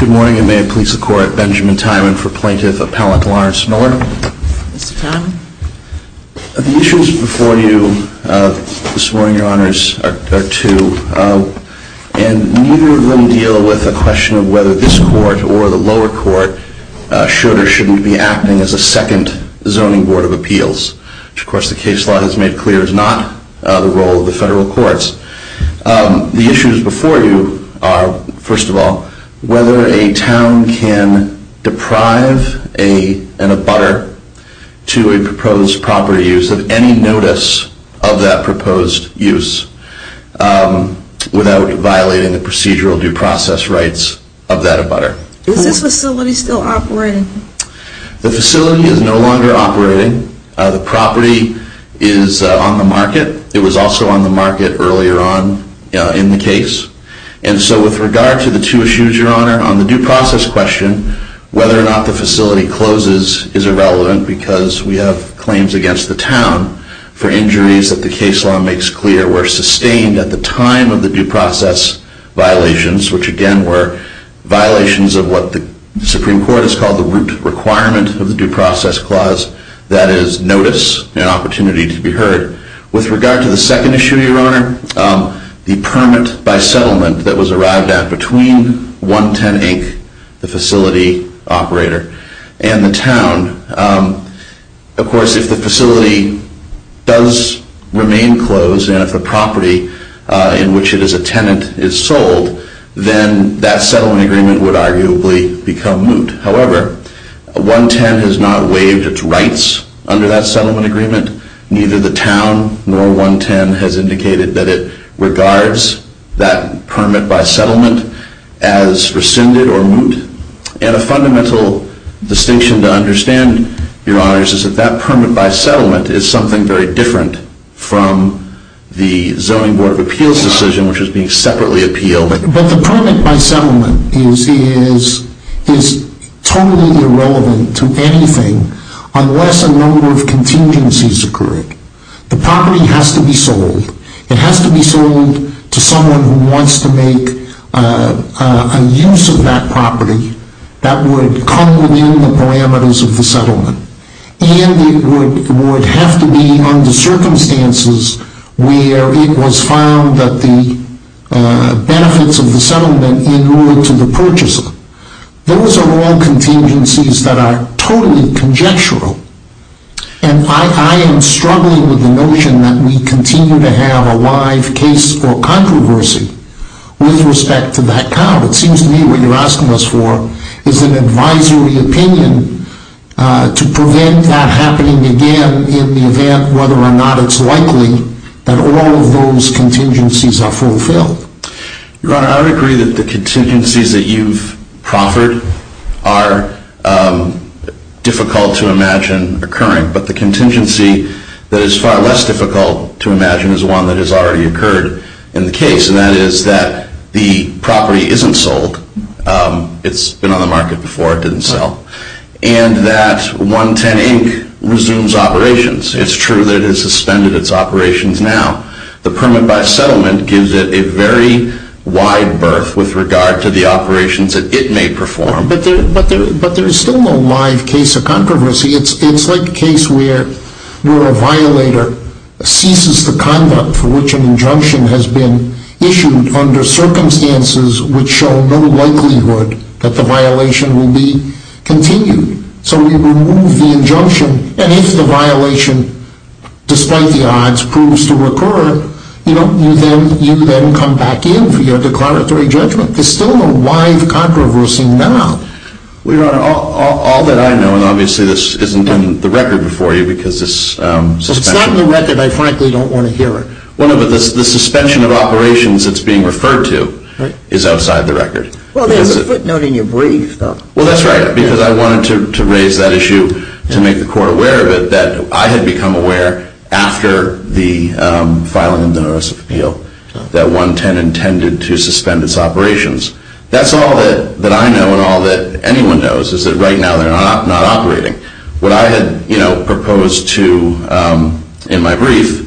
Good morning and may it please the court, Benjamin Tymon for Plaintiff Appellant Lawrence Miller. The issues before you this morning, your honors, are two, and neither of them deal with a question of whether this court or the lower court should or shouldn't be acting as a second Zoning Board of Appeals, which of course the case law has made clear is not the role of the federal courts. The issues before you are, first of all, whether a town can deprive an abutter to a proposed property use of any notice of that proposed use without violating the procedural due process rights of that abutter. Is this facility still operating? The facility is no longer operating. The property is on the market. It was also on the market earlier on in the case. And so with regard to the two issues, your honor, on the due process question, whether or not the facility closes is irrelevant because we have claims against the town for injuries that the case law makes clear were sustained at the time of the due process violations, which again were violations of what the Supreme Court has called the root requirement of the due process clause, that is notice and opportunity to be heard. With regard to the second issue, your honor, the permit by settlement that was arrived at between 110 Inc., the facility operator, and the town, of course if the facility does remain closed and if the property in which it is a tenant is sold, then that settlement agreement would arguably become moot. However, 110 has not waived its rights under that settlement agreement. Neither the town nor 110 has indicated that it regards that permit by settlement as rescinded or moot. And a fundamental distinction to understand, your honors, is that that permit by settlement is something very different from the zoning board of appeals decision which is being separately appealed. But the permit by settlement is totally irrelevant to anything unless a number of contingencies occur. The property has to be sold. It has to be sold to someone who wants to make a use of that property that would come within the parameters of the settlement. And it would have to be under circumstances where it was found that the benefits of the settlement in related to the purchasing. Those are all contingencies that are totally conjectural. And I am struggling with the notion that we continue to have a live case for controversy with respect to that town. It seems to me what you're asking us for is an advisory opinion to prevent that happening again in the event whether or not it's likely that all of those contingencies are fulfilled. Your honor, I would agree that the contingencies that you've proffered are difficult to imagine occurring. But the contingency that is far less difficult to imagine is one that has already occurred in the case. And that is that the property isn't sold. It's been on the market before. It didn't sell. And that 110 Inc. resumes operations. It's true that it has suspended its operations now. The permit by settlement gives it a very wide berth with regard to the operations that it may perform. But there is still no live case of controversy. It's like a case where a violator ceases the conduct for which an injunction has been issued under circumstances which show no likelihood that the violation will be continued. So we remove the injunction. And if the violation, despite the odds, proves to recur, you then come back in for your declaratory judgment. There's still no live controversy now. Your honor, all that I know, and obviously this isn't in the record before you because this suspension. It's not in the record. I frankly don't want to hear it. The suspension of operations it's being referred to is outside the record. Well, there's a footnote in your brief, though. Well, that's right. Because I wanted to raise that issue to make the court aware of it that I had become aware after the filing of the notice of appeal that 110 intended to suspend its operations. That's all that I know and all that anyone knows is that right now they're not operating. What I had proposed to in my brief,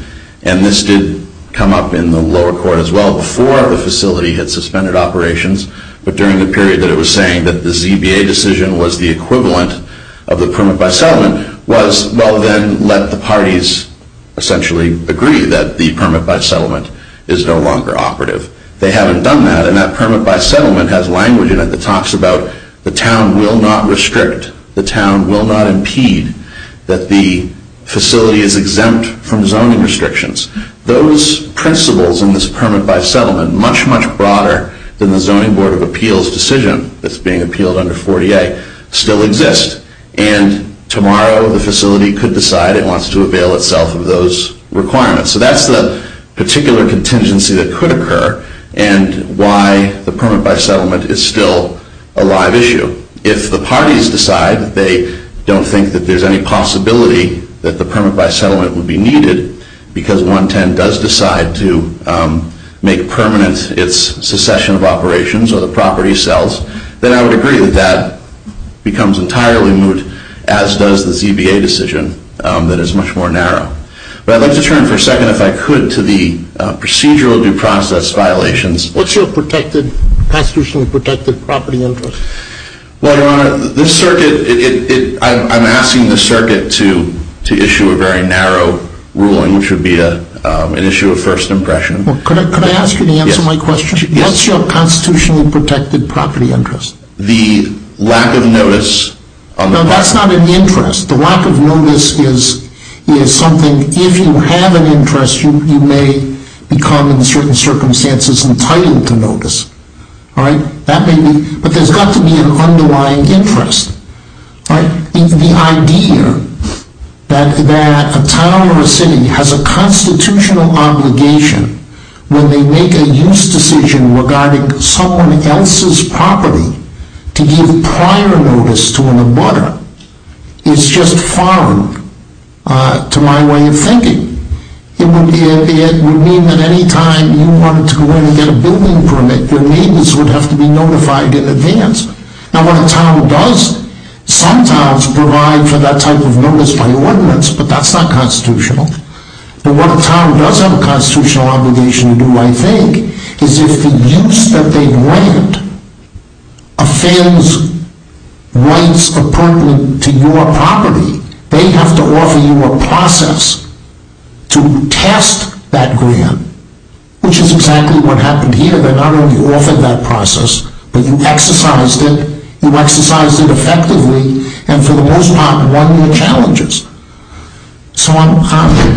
and this did come up in the lower court as well before the facility had suspended operations, but during the period that it was saying that the ZBA decision was the equivalent of the permit-by-settlement, was well then let the parties essentially agree that the permit-by-settlement is no longer operative. They haven't done that. And that permit-by-settlement has language in it that talks about the town will not restrict, the town will not impede that the facility is exempt from zoning restrictions. Those principles in this permit-by-settlement, much, much broader than the Zoning Board of Appeals decision that's being appealed under 40A, still exist. And tomorrow the facility could decide it wants to avail itself of those requirements. So that's the particular contingency that could occur and why the permit-by-settlement is still a live issue. If the parties decide they don't think that there's any possibility that the permit-by-settlement would be needed because 110 does decide to make permanent its secession of operations or the property sells, then I would agree that that becomes entirely moot, as does the ZBA decision that is much more narrow. But I'd like to turn for a second, if I could, to the procedural due process violations. What's your protected, constitutionally protected property interest? Well, Your Honor, this circuit, I'm asking the circuit to issue a very narrow ruling, which would be an issue of first impression. Could I ask you to answer my question? Yes. What's your constitutionally protected property interest? The lack of notice. No, that's not an interest. The lack of notice is something, if you have an interest, you may become, in certain circumstances, entitled to notice. But there's got to be an underlying interest. The idea that a town or a city has a constitutional obligation when they make a use decision regarding someone else's property to give prior notice to an abutter is just foreign to my way of thinking. It would mean that any time you wanted to go in and get a building permit, your neighbors would have to be notified in advance. Now, what a town does, some towns provide for that type of notice by ordinance, but that's not constitutional. But what a town does have a constitutional obligation to do, I think, is if the use that they grant fails rights appropriate to your property, they have to offer you a process to test that grant, which is exactly what happened here. They're not only offered that process, but you exercised it. You exercised it effectively and, for the most part, won your challenges. So I'm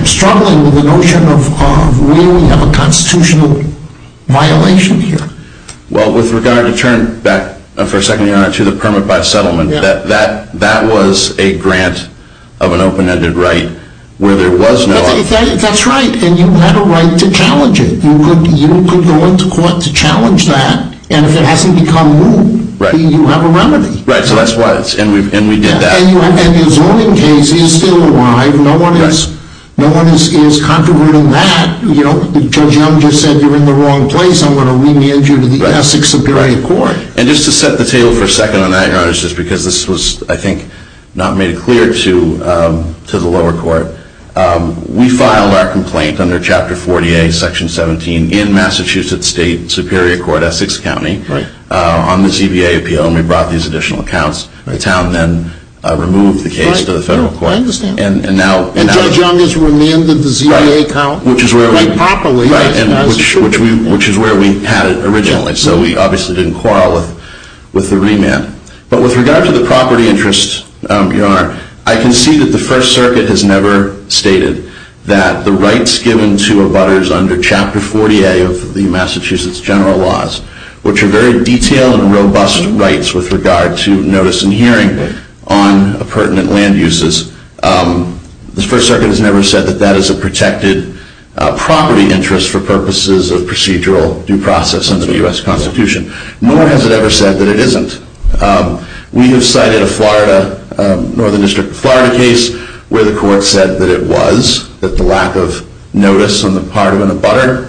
struggling with the notion of where we have a constitutional violation here. Well, with regard to turn back, for a second, Your Honor, to the permit by settlement, that was a grant of an open-ended right where there was no— That's right, and you had a right to challenge it. You could go into court to challenge that, and if it hasn't become moot, you have a remedy. Right, so that's why it's—and we did that. And your zoning case is still alive. No one is contributing that. Judge Young just said you're in the wrong place. I'm going to remand you to the Essex Superior Court. And just to set the table for a second on that, Your Honor, just because this was, I think, not made clear to the lower court, we filed our complaint under Chapter 40A, Section 17, in Massachusetts State Superior Court, Essex County, on the ZVA appeal, and we brought these additional accounts. I understand. And Judge Young has remanded the ZVA account? Right, which is where we— Right, properly. Right, which is where we had it originally, so we obviously didn't quarrel with the remand. But with regard to the property interest, Your Honor, I can see that the First Circuit has never stated that the rights given to abutters under Chapter 40A of the Massachusetts general laws, which are very detailed and robust rights with regard to notice and hearing on pertinent land uses, the First Circuit has never said that that is a protected property interest for purposes of procedural due process under the U.S. Constitution. Nor has it ever said that it isn't. We have cited a Florida, Northern District of Florida case, where the court said that it was, that the lack of notice on the part of an abutter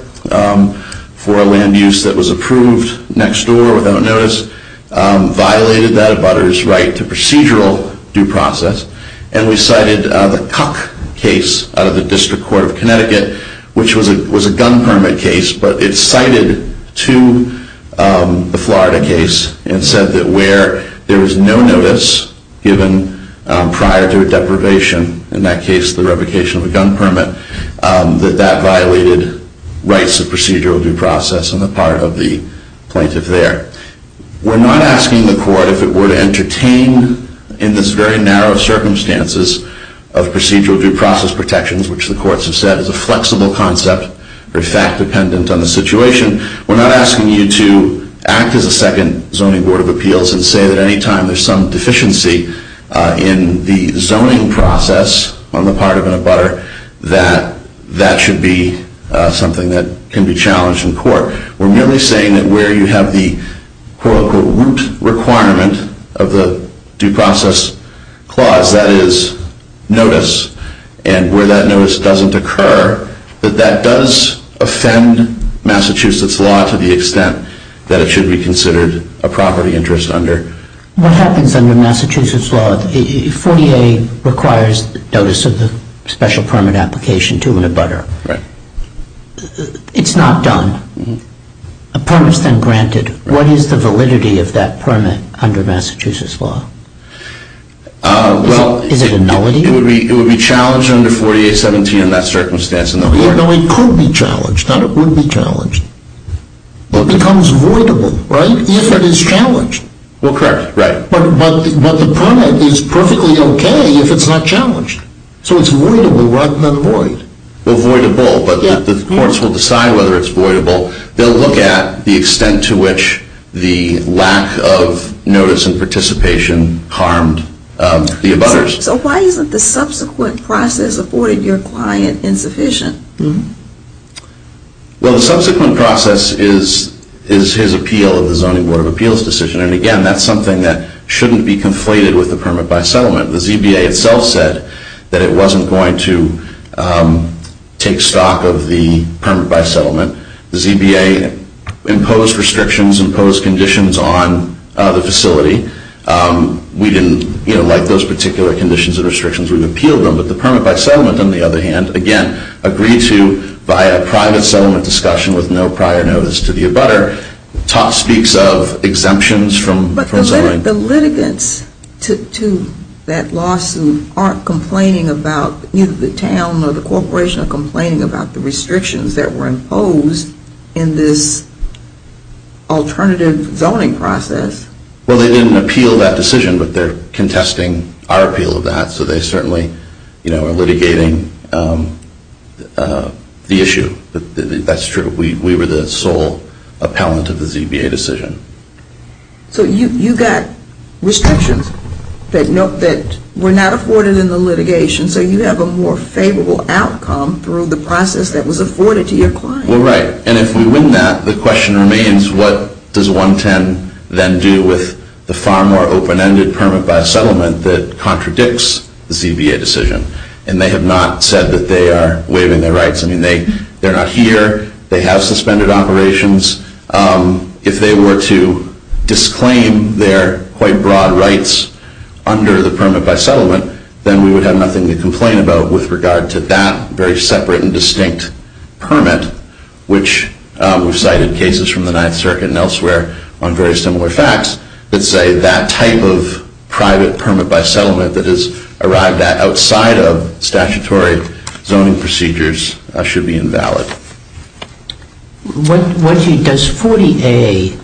for a land use that was approved next door without notice violated that abutter's right to procedural due process. And we cited the Cuck case out of the District Court of Connecticut, which was a gun permit case, but it cited to the Florida case and said that where there was no notice given prior to a deprivation, in that case the revocation of a gun permit, that that violated rights of procedural due process on the part of the plaintiff there. We're not asking the court if it were to entertain, in this very narrow circumstances of procedural due process protections, which the courts have said is a flexible concept, or fact-dependent on the situation, we're not asking you to act as a second Zoning Board of Appeals and say that any time there's some deficiency in the zoning process on the part of an abutter, that that should be something that can be challenged in court. We're merely saying that where you have the quote-unquote root requirement of the due process clause, that is notice, and where that notice doesn't occur, that that does offend Massachusetts law to the extent that it should be considered a property interest under. What happens under Massachusetts law, 40A requires notice of the special permit application to an abutter. Right. It's not done. A permit is then granted. What is the validity of that permit under Massachusetts law? Is it a nullity? It would be challenged under 40A.17 in that circumstance. No, it could be challenged. Not it would be challenged. It becomes voidable, right, if it is challenged. Well, correct. Right. But the permit is perfectly okay if it's not challenged. So it's voidable rather than void. Well, voidable, but the courts will decide whether it's voidable. They'll look at the extent to which the lack of notice and participation harmed the abutters. So why isn't the subsequent process afforded your client insufficient? Well, the subsequent process is his appeal of the Zoning Board of Appeals decision, and, again, that's something that shouldn't be conflated with the permit by settlement. The ZBA itself said that it wasn't going to take stock of the permit by settlement. The ZBA imposed restrictions, imposed conditions on the facility. We didn't, you know, like those particular conditions and restrictions, we appealed them. But the permit by settlement, on the other hand, again, agreed to via private settlement discussion with no prior notice to the abutter, speaks of exemptions from zoning. But the litigants to that lawsuit aren't complaining about either the town or the corporation are complaining about the restrictions that were imposed in this alternative zoning process. Well, they didn't appeal that decision, but they're contesting our appeal of that. So they certainly, you know, are litigating the issue. That's true. We were the sole appellant of the ZBA decision. So you got restrictions that were not afforded in the litigation, so you have a more favorable outcome through the process that was afforded to your client. Well, right. And if we win that, the question remains, what does 110 then do with the far more open-ended permit by settlement that contradicts the ZBA decision? And they have not said that they are waiving their rights. I mean, they're not here. They have suspended operations. If they were to disclaim their quite broad rights under the permit by settlement, then we would have nothing to complain about with regard to that very separate and distinct permit, which we've cited cases from the Ninth Circuit and elsewhere on very similar facts that say that type of private permit by settlement that has arrived outside of statutory zoning procedures should be invalid. Does 40A,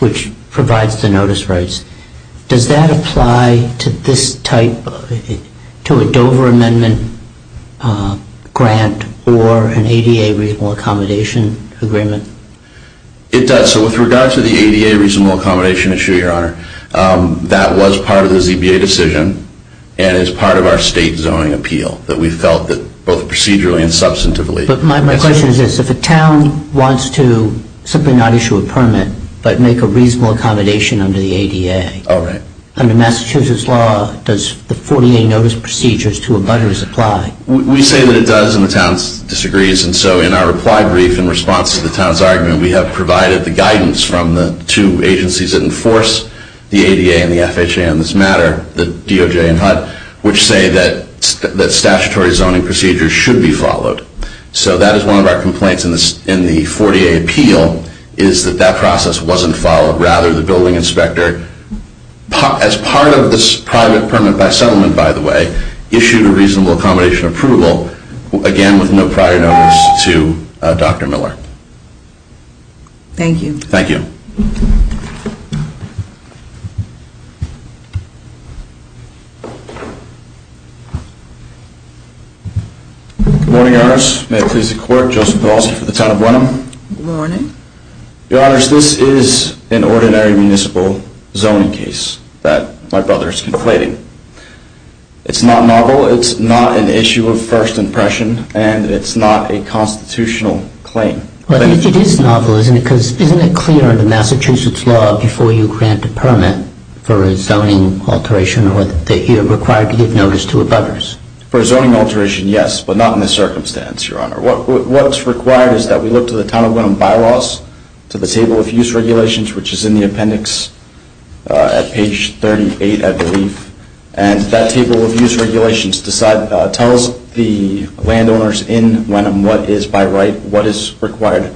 which provides the notice rights, does that apply to this type, to a Dover Amendment grant or an ADA reasonable accommodation agreement? It does. So with regard to the ADA reasonable accommodation issue, Your Honor, that was part of the ZBA decision and is part of our state zoning appeal that we felt that both procedurally and substantively. But my question is this. If a town wants to simply not issue a permit but make a reasonable accommodation under the ADA, under Massachusetts law, does the 40A notice procedures to a budgeter's apply? We say that it does, and the town disagrees. And so in our reply brief in response to the town's argument, we have provided the guidance from the two agencies that enforce the ADA and the FHA on this matter, the DOJ and HUD, which say that statutory zoning procedures should be followed. So that is one of our complaints in the 40A appeal, is that that process wasn't followed. Rather, the building inspector, as part of this private permit by settlement, by the way, issued a reasonable accommodation approval, again, with no prior notice to Dr. Miller. Thank you. Thank you. Good morning, Your Honors. May it please the Court. Joseph Pelosi for the town of Wenham. Good morning. Your Honors, this is an ordinary municipal zoning case that my brother is conflating. It's not novel. It's not an issue of first impression, and it's not a constitutional claim. But it is novel, isn't it? Because isn't it clear under Massachusetts law before you grant a permit for a zoning alteration that you're required to give notice to a brother's? For a zoning alteration, yes, but not in this circumstance, Your Honor. What's required is that we look to the town of Wenham bylaws, to the table of use regulations, which is in the appendix at page 38, I believe. And that table of use regulations tells the landowners in Wenham what is by right, what is required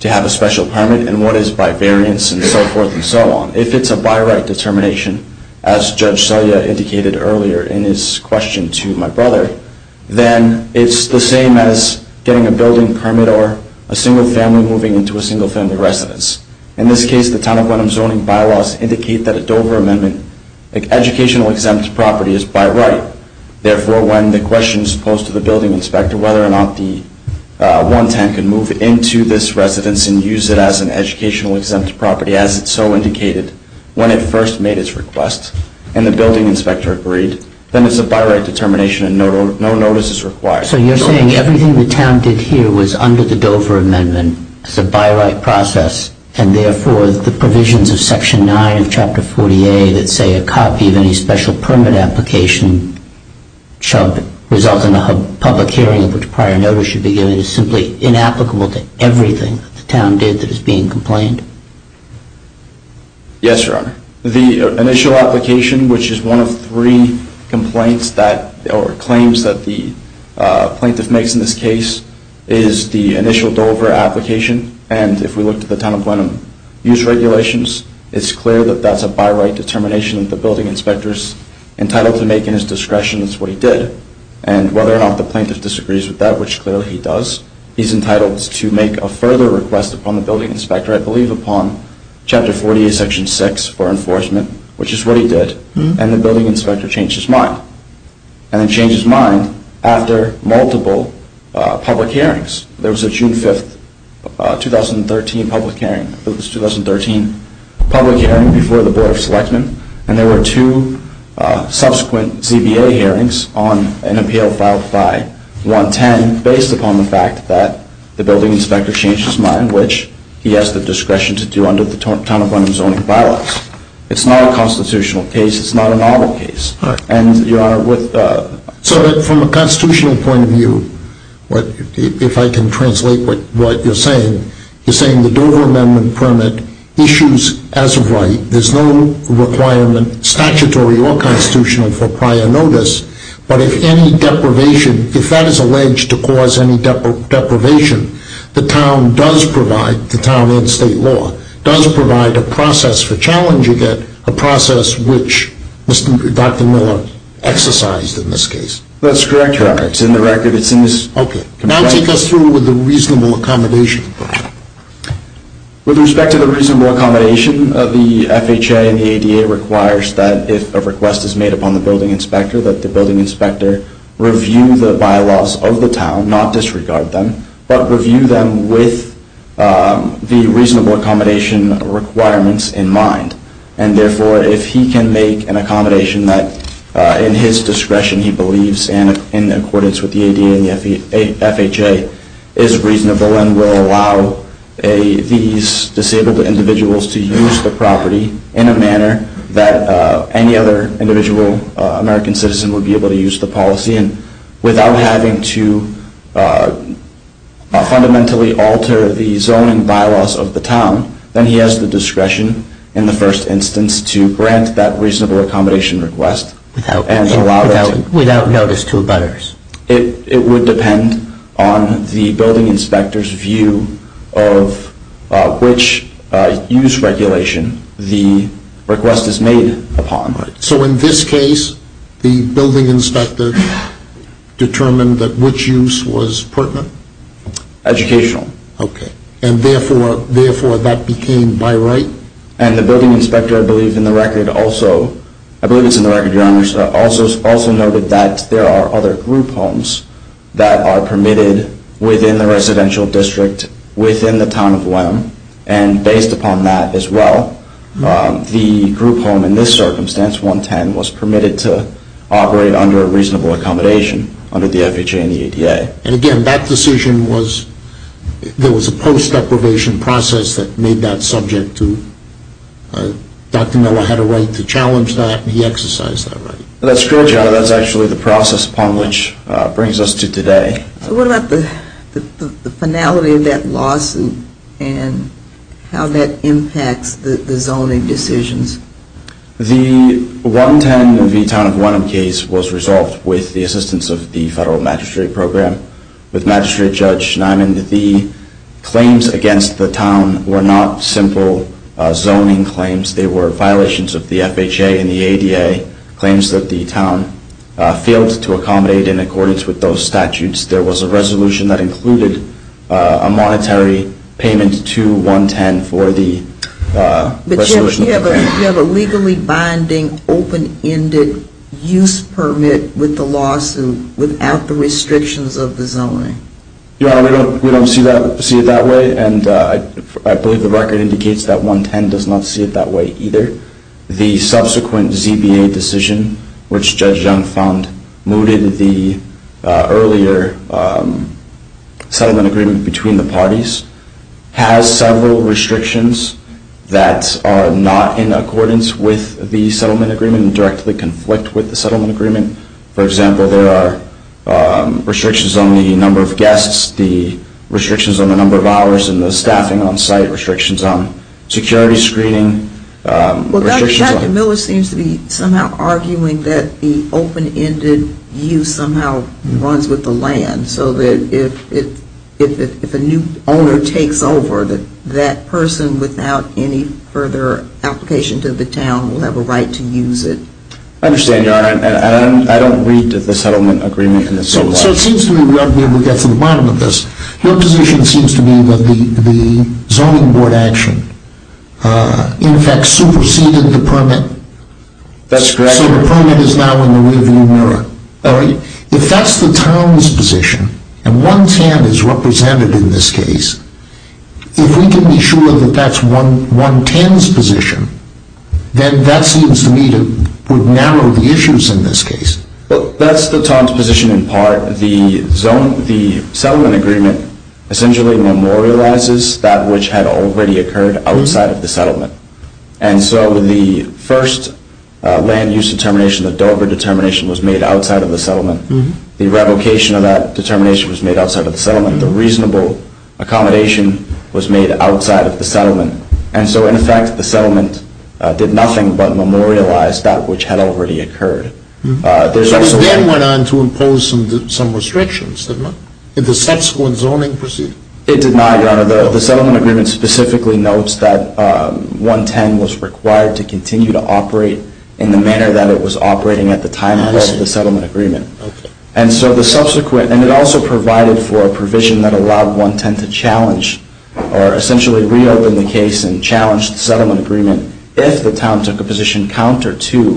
to have a special permit, and what is by variance, and so forth and so on. If it's a by right determination, as Judge Selya indicated earlier in his question to my brother, then it's the same as getting a building permit or a single family moving into a single family residence. In this case, the town of Wenham zoning bylaws indicate that a Dover Amendment educational exempt property is by right. Therefore, when the question is posed to the building inspector whether or not the 110 can move into this residence and use it as an educational exempt property, as it's so indicated, when it first made its request and the building inspector agreed, then it's a by right determination and no notice is required. So you're saying everything the town did here was under the Dover Amendment. It's a by right process, and therefore the provisions of Section 9 of Chapter 48 that say a copy of any special permit application result in a public hearing, which prior notice should be given, is simply inapplicable to everything that the town did that is being complained? Yes, Your Honor. The initial application, which is one of three complaints or claims that the plaintiff makes in this case, is the initial Dover application. And if we look at the town of Wenham use regulations, it's clear that that's a by right determination that the building inspector is entitled to make in his discretion as to what he did. And whether or not the plaintiff disagrees with that, which clearly he does, he's entitled to make a further request upon the building inspector, I believe upon Chapter 48, Section 6 for enforcement, which is what he did, and the building inspector changed his mind. And he changed his mind after multiple public hearings. There was a June 5, 2013 public hearing before the Board of Selectmen, and there were two subsequent CBA hearings on an appeal filed by 110 based upon the fact that the building inspector changed his mind, which he has the discretion to do under the Town of Wenham Zoning By-laws. It's not a constitutional case. It's not a novel case. And, Your Honor, with the... So from a constitutional point of view, if I can translate what you're saying, you're saying the Dover amendment permit issues as a right. There's no requirement, statutory or constitutional, for prior notice. But if any deprivation, if that is alleged to cause any deprivation, the town does provide, the town and state law, does provide a process for challenging it, a process which Dr. Miller exercised in this case. That's correct, Your Honor. It's in the record. It's in this contract. Okay. Now take us through with the reasonable accommodation. With respect to the reasonable accommodation, the FHA and the ADA requires that if a request is made upon the building inspector, that the building inspector review the by-laws of the town, not disregard them, but review them with the reasonable accommodation requirements in mind. And, therefore, if he can make an accommodation that, in his discretion, he believes in accordance with the ADA and the FHA is reasonable and will allow these disabled individuals to use the property in a manner that any other individual American citizen would be able to use the policy without having to fundamentally alter the zoning by-laws of the town, then he has the discretion in the first instance to grant that reasonable accommodation request. Without notice to others. It would depend on the building inspector's view of which use regulation the request is made upon. So in this case, the building inspector determined that which use was pertinent? Educational. Okay. And, therefore, that became my right? And the building inspector, I believe in the record also, I believe it's in the record, Your Honors, also noted that there are other group homes that are permitted within the residential district, within the town of Willam, and based upon that as well, the group home in this circumstance, 110, was permitted to operate under a reasonable accommodation under the FHA and the ADA. And, again, that decision was, there was a post-deprivation process that made that subject to, Dr. Miller had a right to challenge that and he exercised that right. That's correct, Your Honor. That's actually the process upon which it brings us to today. So what about the finality of that lawsuit and how that impacts the zoning decisions? The 110 v. Town of Willam case was resolved with the assistance of the Federal Magistrate Program. With Magistrate Judge Nyman, the claims against the town were not simple zoning claims. They were violations of the FHA and the ADA, claims that the town failed to accommodate in accordance with those statutes. There was a resolution that included a monetary payment to 110 for the resolution. Do you have a legally binding, open-ended use permit with the lawsuit without the restrictions of the zoning? Your Honor, we don't see it that way, and I believe the record indicates that 110 does not see it that way either. The subsequent ZBA decision, which Judge Young found mooted the earlier settlement agreement between the parties, has several restrictions that are not in accordance with the settlement agreement and directly conflict with the settlement agreement. For example, there are restrictions on the number of guests, the restrictions on the number of hours and the staffing on site, restrictions on security screening. Well, Dr. Miller seems to be somehow arguing that the open-ended use somehow runs with the land, so that if a new owner takes over, that that person, without any further application to the town, will have a right to use it. I understand, Your Honor, and I don't read the settlement agreement in this way. So it seems to me we have to be able to get to the bottom of this. Your position seems to be that the zoning board action, in fact, superseded the permit. That's correct, Your Honor. So the permit is now in the rearview mirror. If that's the town's position, and 110 is represented in this case, if we can be sure that that's 110's position, then that seems to me to narrow the issues in this case. Well, that's the town's position in part. The settlement agreement essentially memorializes that which had already occurred outside of the settlement. And so the first land use determination, the Dover determination, was made outside of the settlement. The revocation of that determination was made outside of the settlement. The reasonable accommodation was made outside of the settlement. And so in effect, the settlement did nothing but memorialize that which had already occurred. It then went on to impose some restrictions. Did the subsequent zoning proceed? It did not, Your Honor. The settlement agreement specifically notes that 110 was required to continue to operate in the manner that it was operating at the time of the settlement agreement. And it also provided for a provision that allowed 110 to challenge or essentially reopen the case and challenge the settlement agreement if the town took a position counter to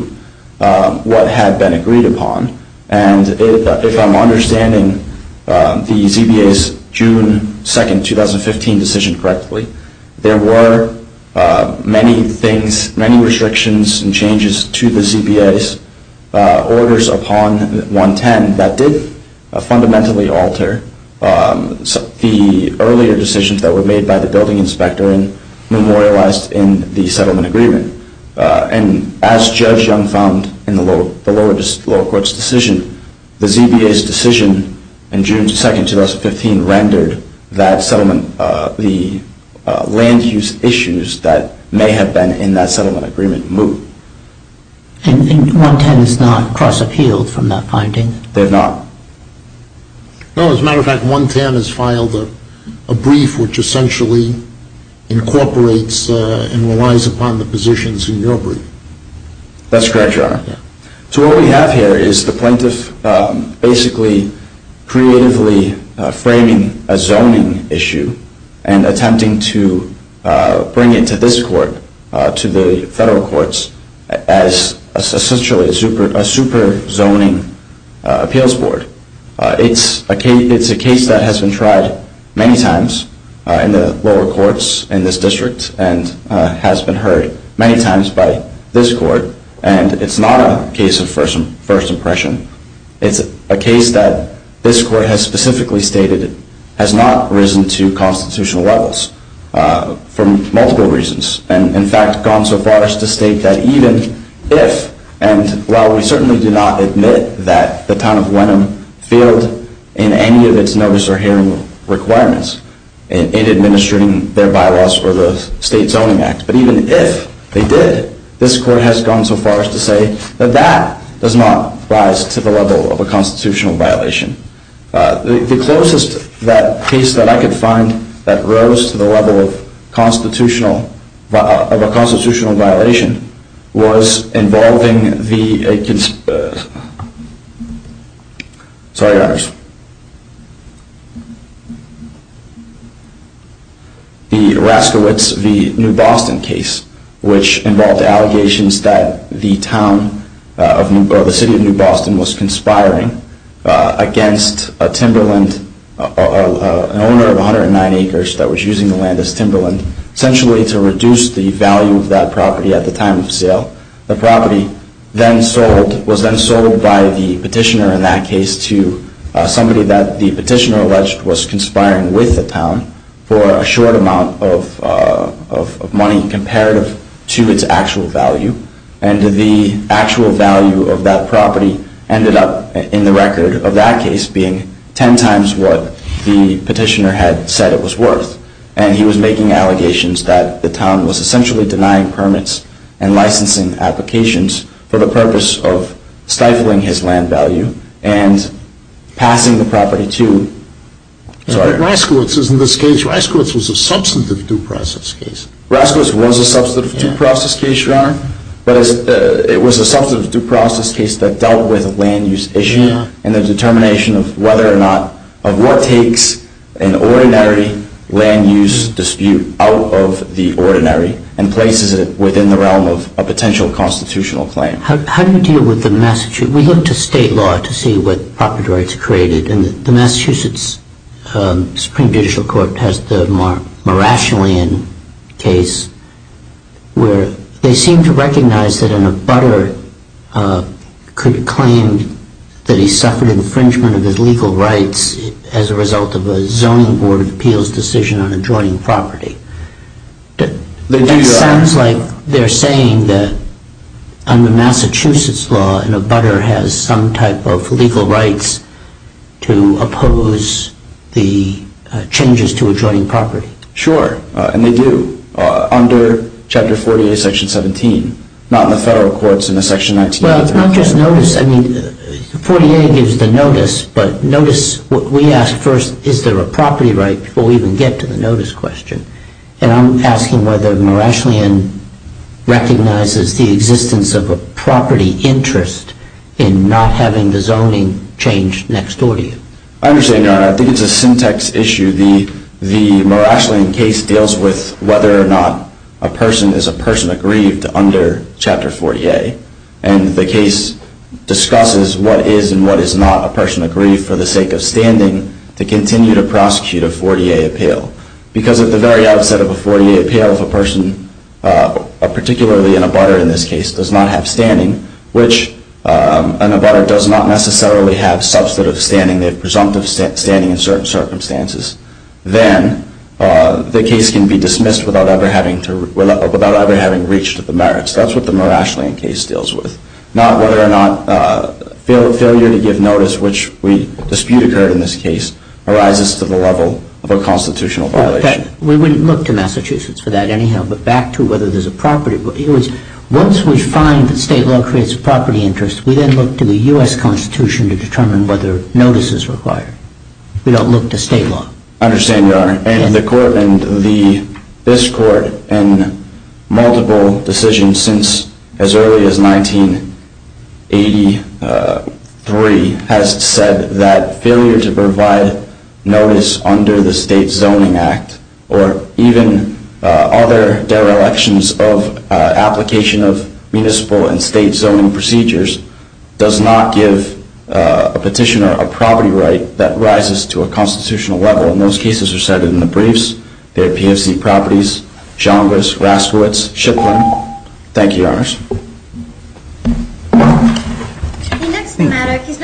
what had been agreed upon. And if I'm understanding the ZBA's June 2, 2015 decision correctly, there were many things, many restrictions and changes to the ZBA's orders upon 110 that did fundamentally alter the earlier decisions that were made by the building inspector and memorialized in the settlement agreement. And as Judge Young found in the lower court's decision, the ZBA's decision in June 2, 2015 rendered that settlement, the land use issues that may have been in that settlement agreement, moot. And 110 has not cross-appealed from that finding? They have not. No, as a matter of fact, 110 has filed a brief which essentially incorporates and relies upon the positions in your brief. That's correct, Your Honor. So what we have here is the plaintiff basically creatively framing a zoning issue and attempting to bring it to this court, to the federal courts, as essentially a super zoning appeals board. It's a case that has been tried many times in the lower courts in this district and has been heard many times by this court. And it's not a case of first impression. It's a case that this court has specifically stated has not risen to constitutional levels for multiple reasons and, in fact, gone so far as to state that even if, and while we certainly do not admit that the town of Wenham failed in any of its notice or hearing requirements in administering their bylaws or the State Zoning Act, but even if they did, this court has gone so far as to say that that does not rise to the level of a constitutional violation. The closest case that I could find that rose to the level of a constitutional violation was involving the, sorry, Your Honors, the Raskowitz v. New Boston case, which involved allegations that the city of New Boston was conspiring against a Timberland, an owner of 109 acres that was using the land as Timberland, essentially to reduce the value of that property at the time of sale. The property then sold, was then sold by the petitioner in that case to somebody that the petitioner alleged was conspiring with the town for a short amount of money comparative to its actual value. And the actual value of that property ended up in the record of that case being 10 times what the petitioner had said it was worth. And he was making allegations that the town was essentially denying permits and licensing applications for the purpose of stifling his land value and passing the property to, sorry. Raskowitz is in this case, Raskowitz was a substantive due process case. Raskowitz was a substantive due process case, Your Honor, but it was a substantive due process case that dealt with a land use issue and the determination of whether or not, of what takes an ordinary land use dispute out of the ordinary and places it within the realm of a potential constitutional claim. How do you deal with the, we look to state law to see what property rights are created and the Massachusetts Supreme Judicial Court has the Marashilian case where they seem to recognize that an abutter could claim that he suffered infringement of his legal rights as a result of a zoning board of appeals decision on adjoining property. That sounds like they're saying that under Massachusetts law an abutter has some type of legal rights to oppose the changes to adjoining property. Sure, and they do. Under Chapter 48, Section 17. Not in the federal courts in the Section 19. Well, not just notice, I mean, 48 gives the notice, but notice what we ask first, is there a property right before we even get to the notice question? And I'm asking whether Marashilian recognizes the existence of a property interest in not having the zoning change next door to you. I understand, Your Honor, I think it's a syntax issue. The Marashilian case deals with whether or not a person is a person aggrieved under Chapter 48 and the case discusses what is and what is not a person aggrieved for the sake of standing to continue to prosecute a 48 appeal. Because at the very outset of a 48 appeal if a person, particularly an abutter in this case, does not have standing, which an abutter does not necessarily have substantive standing, they have presumptive standing in certain circumstances, then the case can be dismissed without ever having reached the merits. That's what the Marashilian case deals with. Not whether or not failure to give notice, which we dispute occurred in this case, arises to the level of a constitutional violation. We wouldn't look to Massachusetts for that anyhow, but back to whether there's a property. Once we find that state law creates a property interest, we then look to the U.S. Constitution to determine whether notice is required. We don't look to state law. I understand, Your Honor. And the court, and this court, in multiple decisions since as early as 1983, has said that failure to provide notice under the State Zoning Act or even other derelictions of application of municipal and state zoning procedures does not give a petitioner a property right that rises to a constitutional level. And those cases are cited in the briefs. They're PFC properties, Chalmers, Raskowitz, Shipman. Thank you, Your Honors.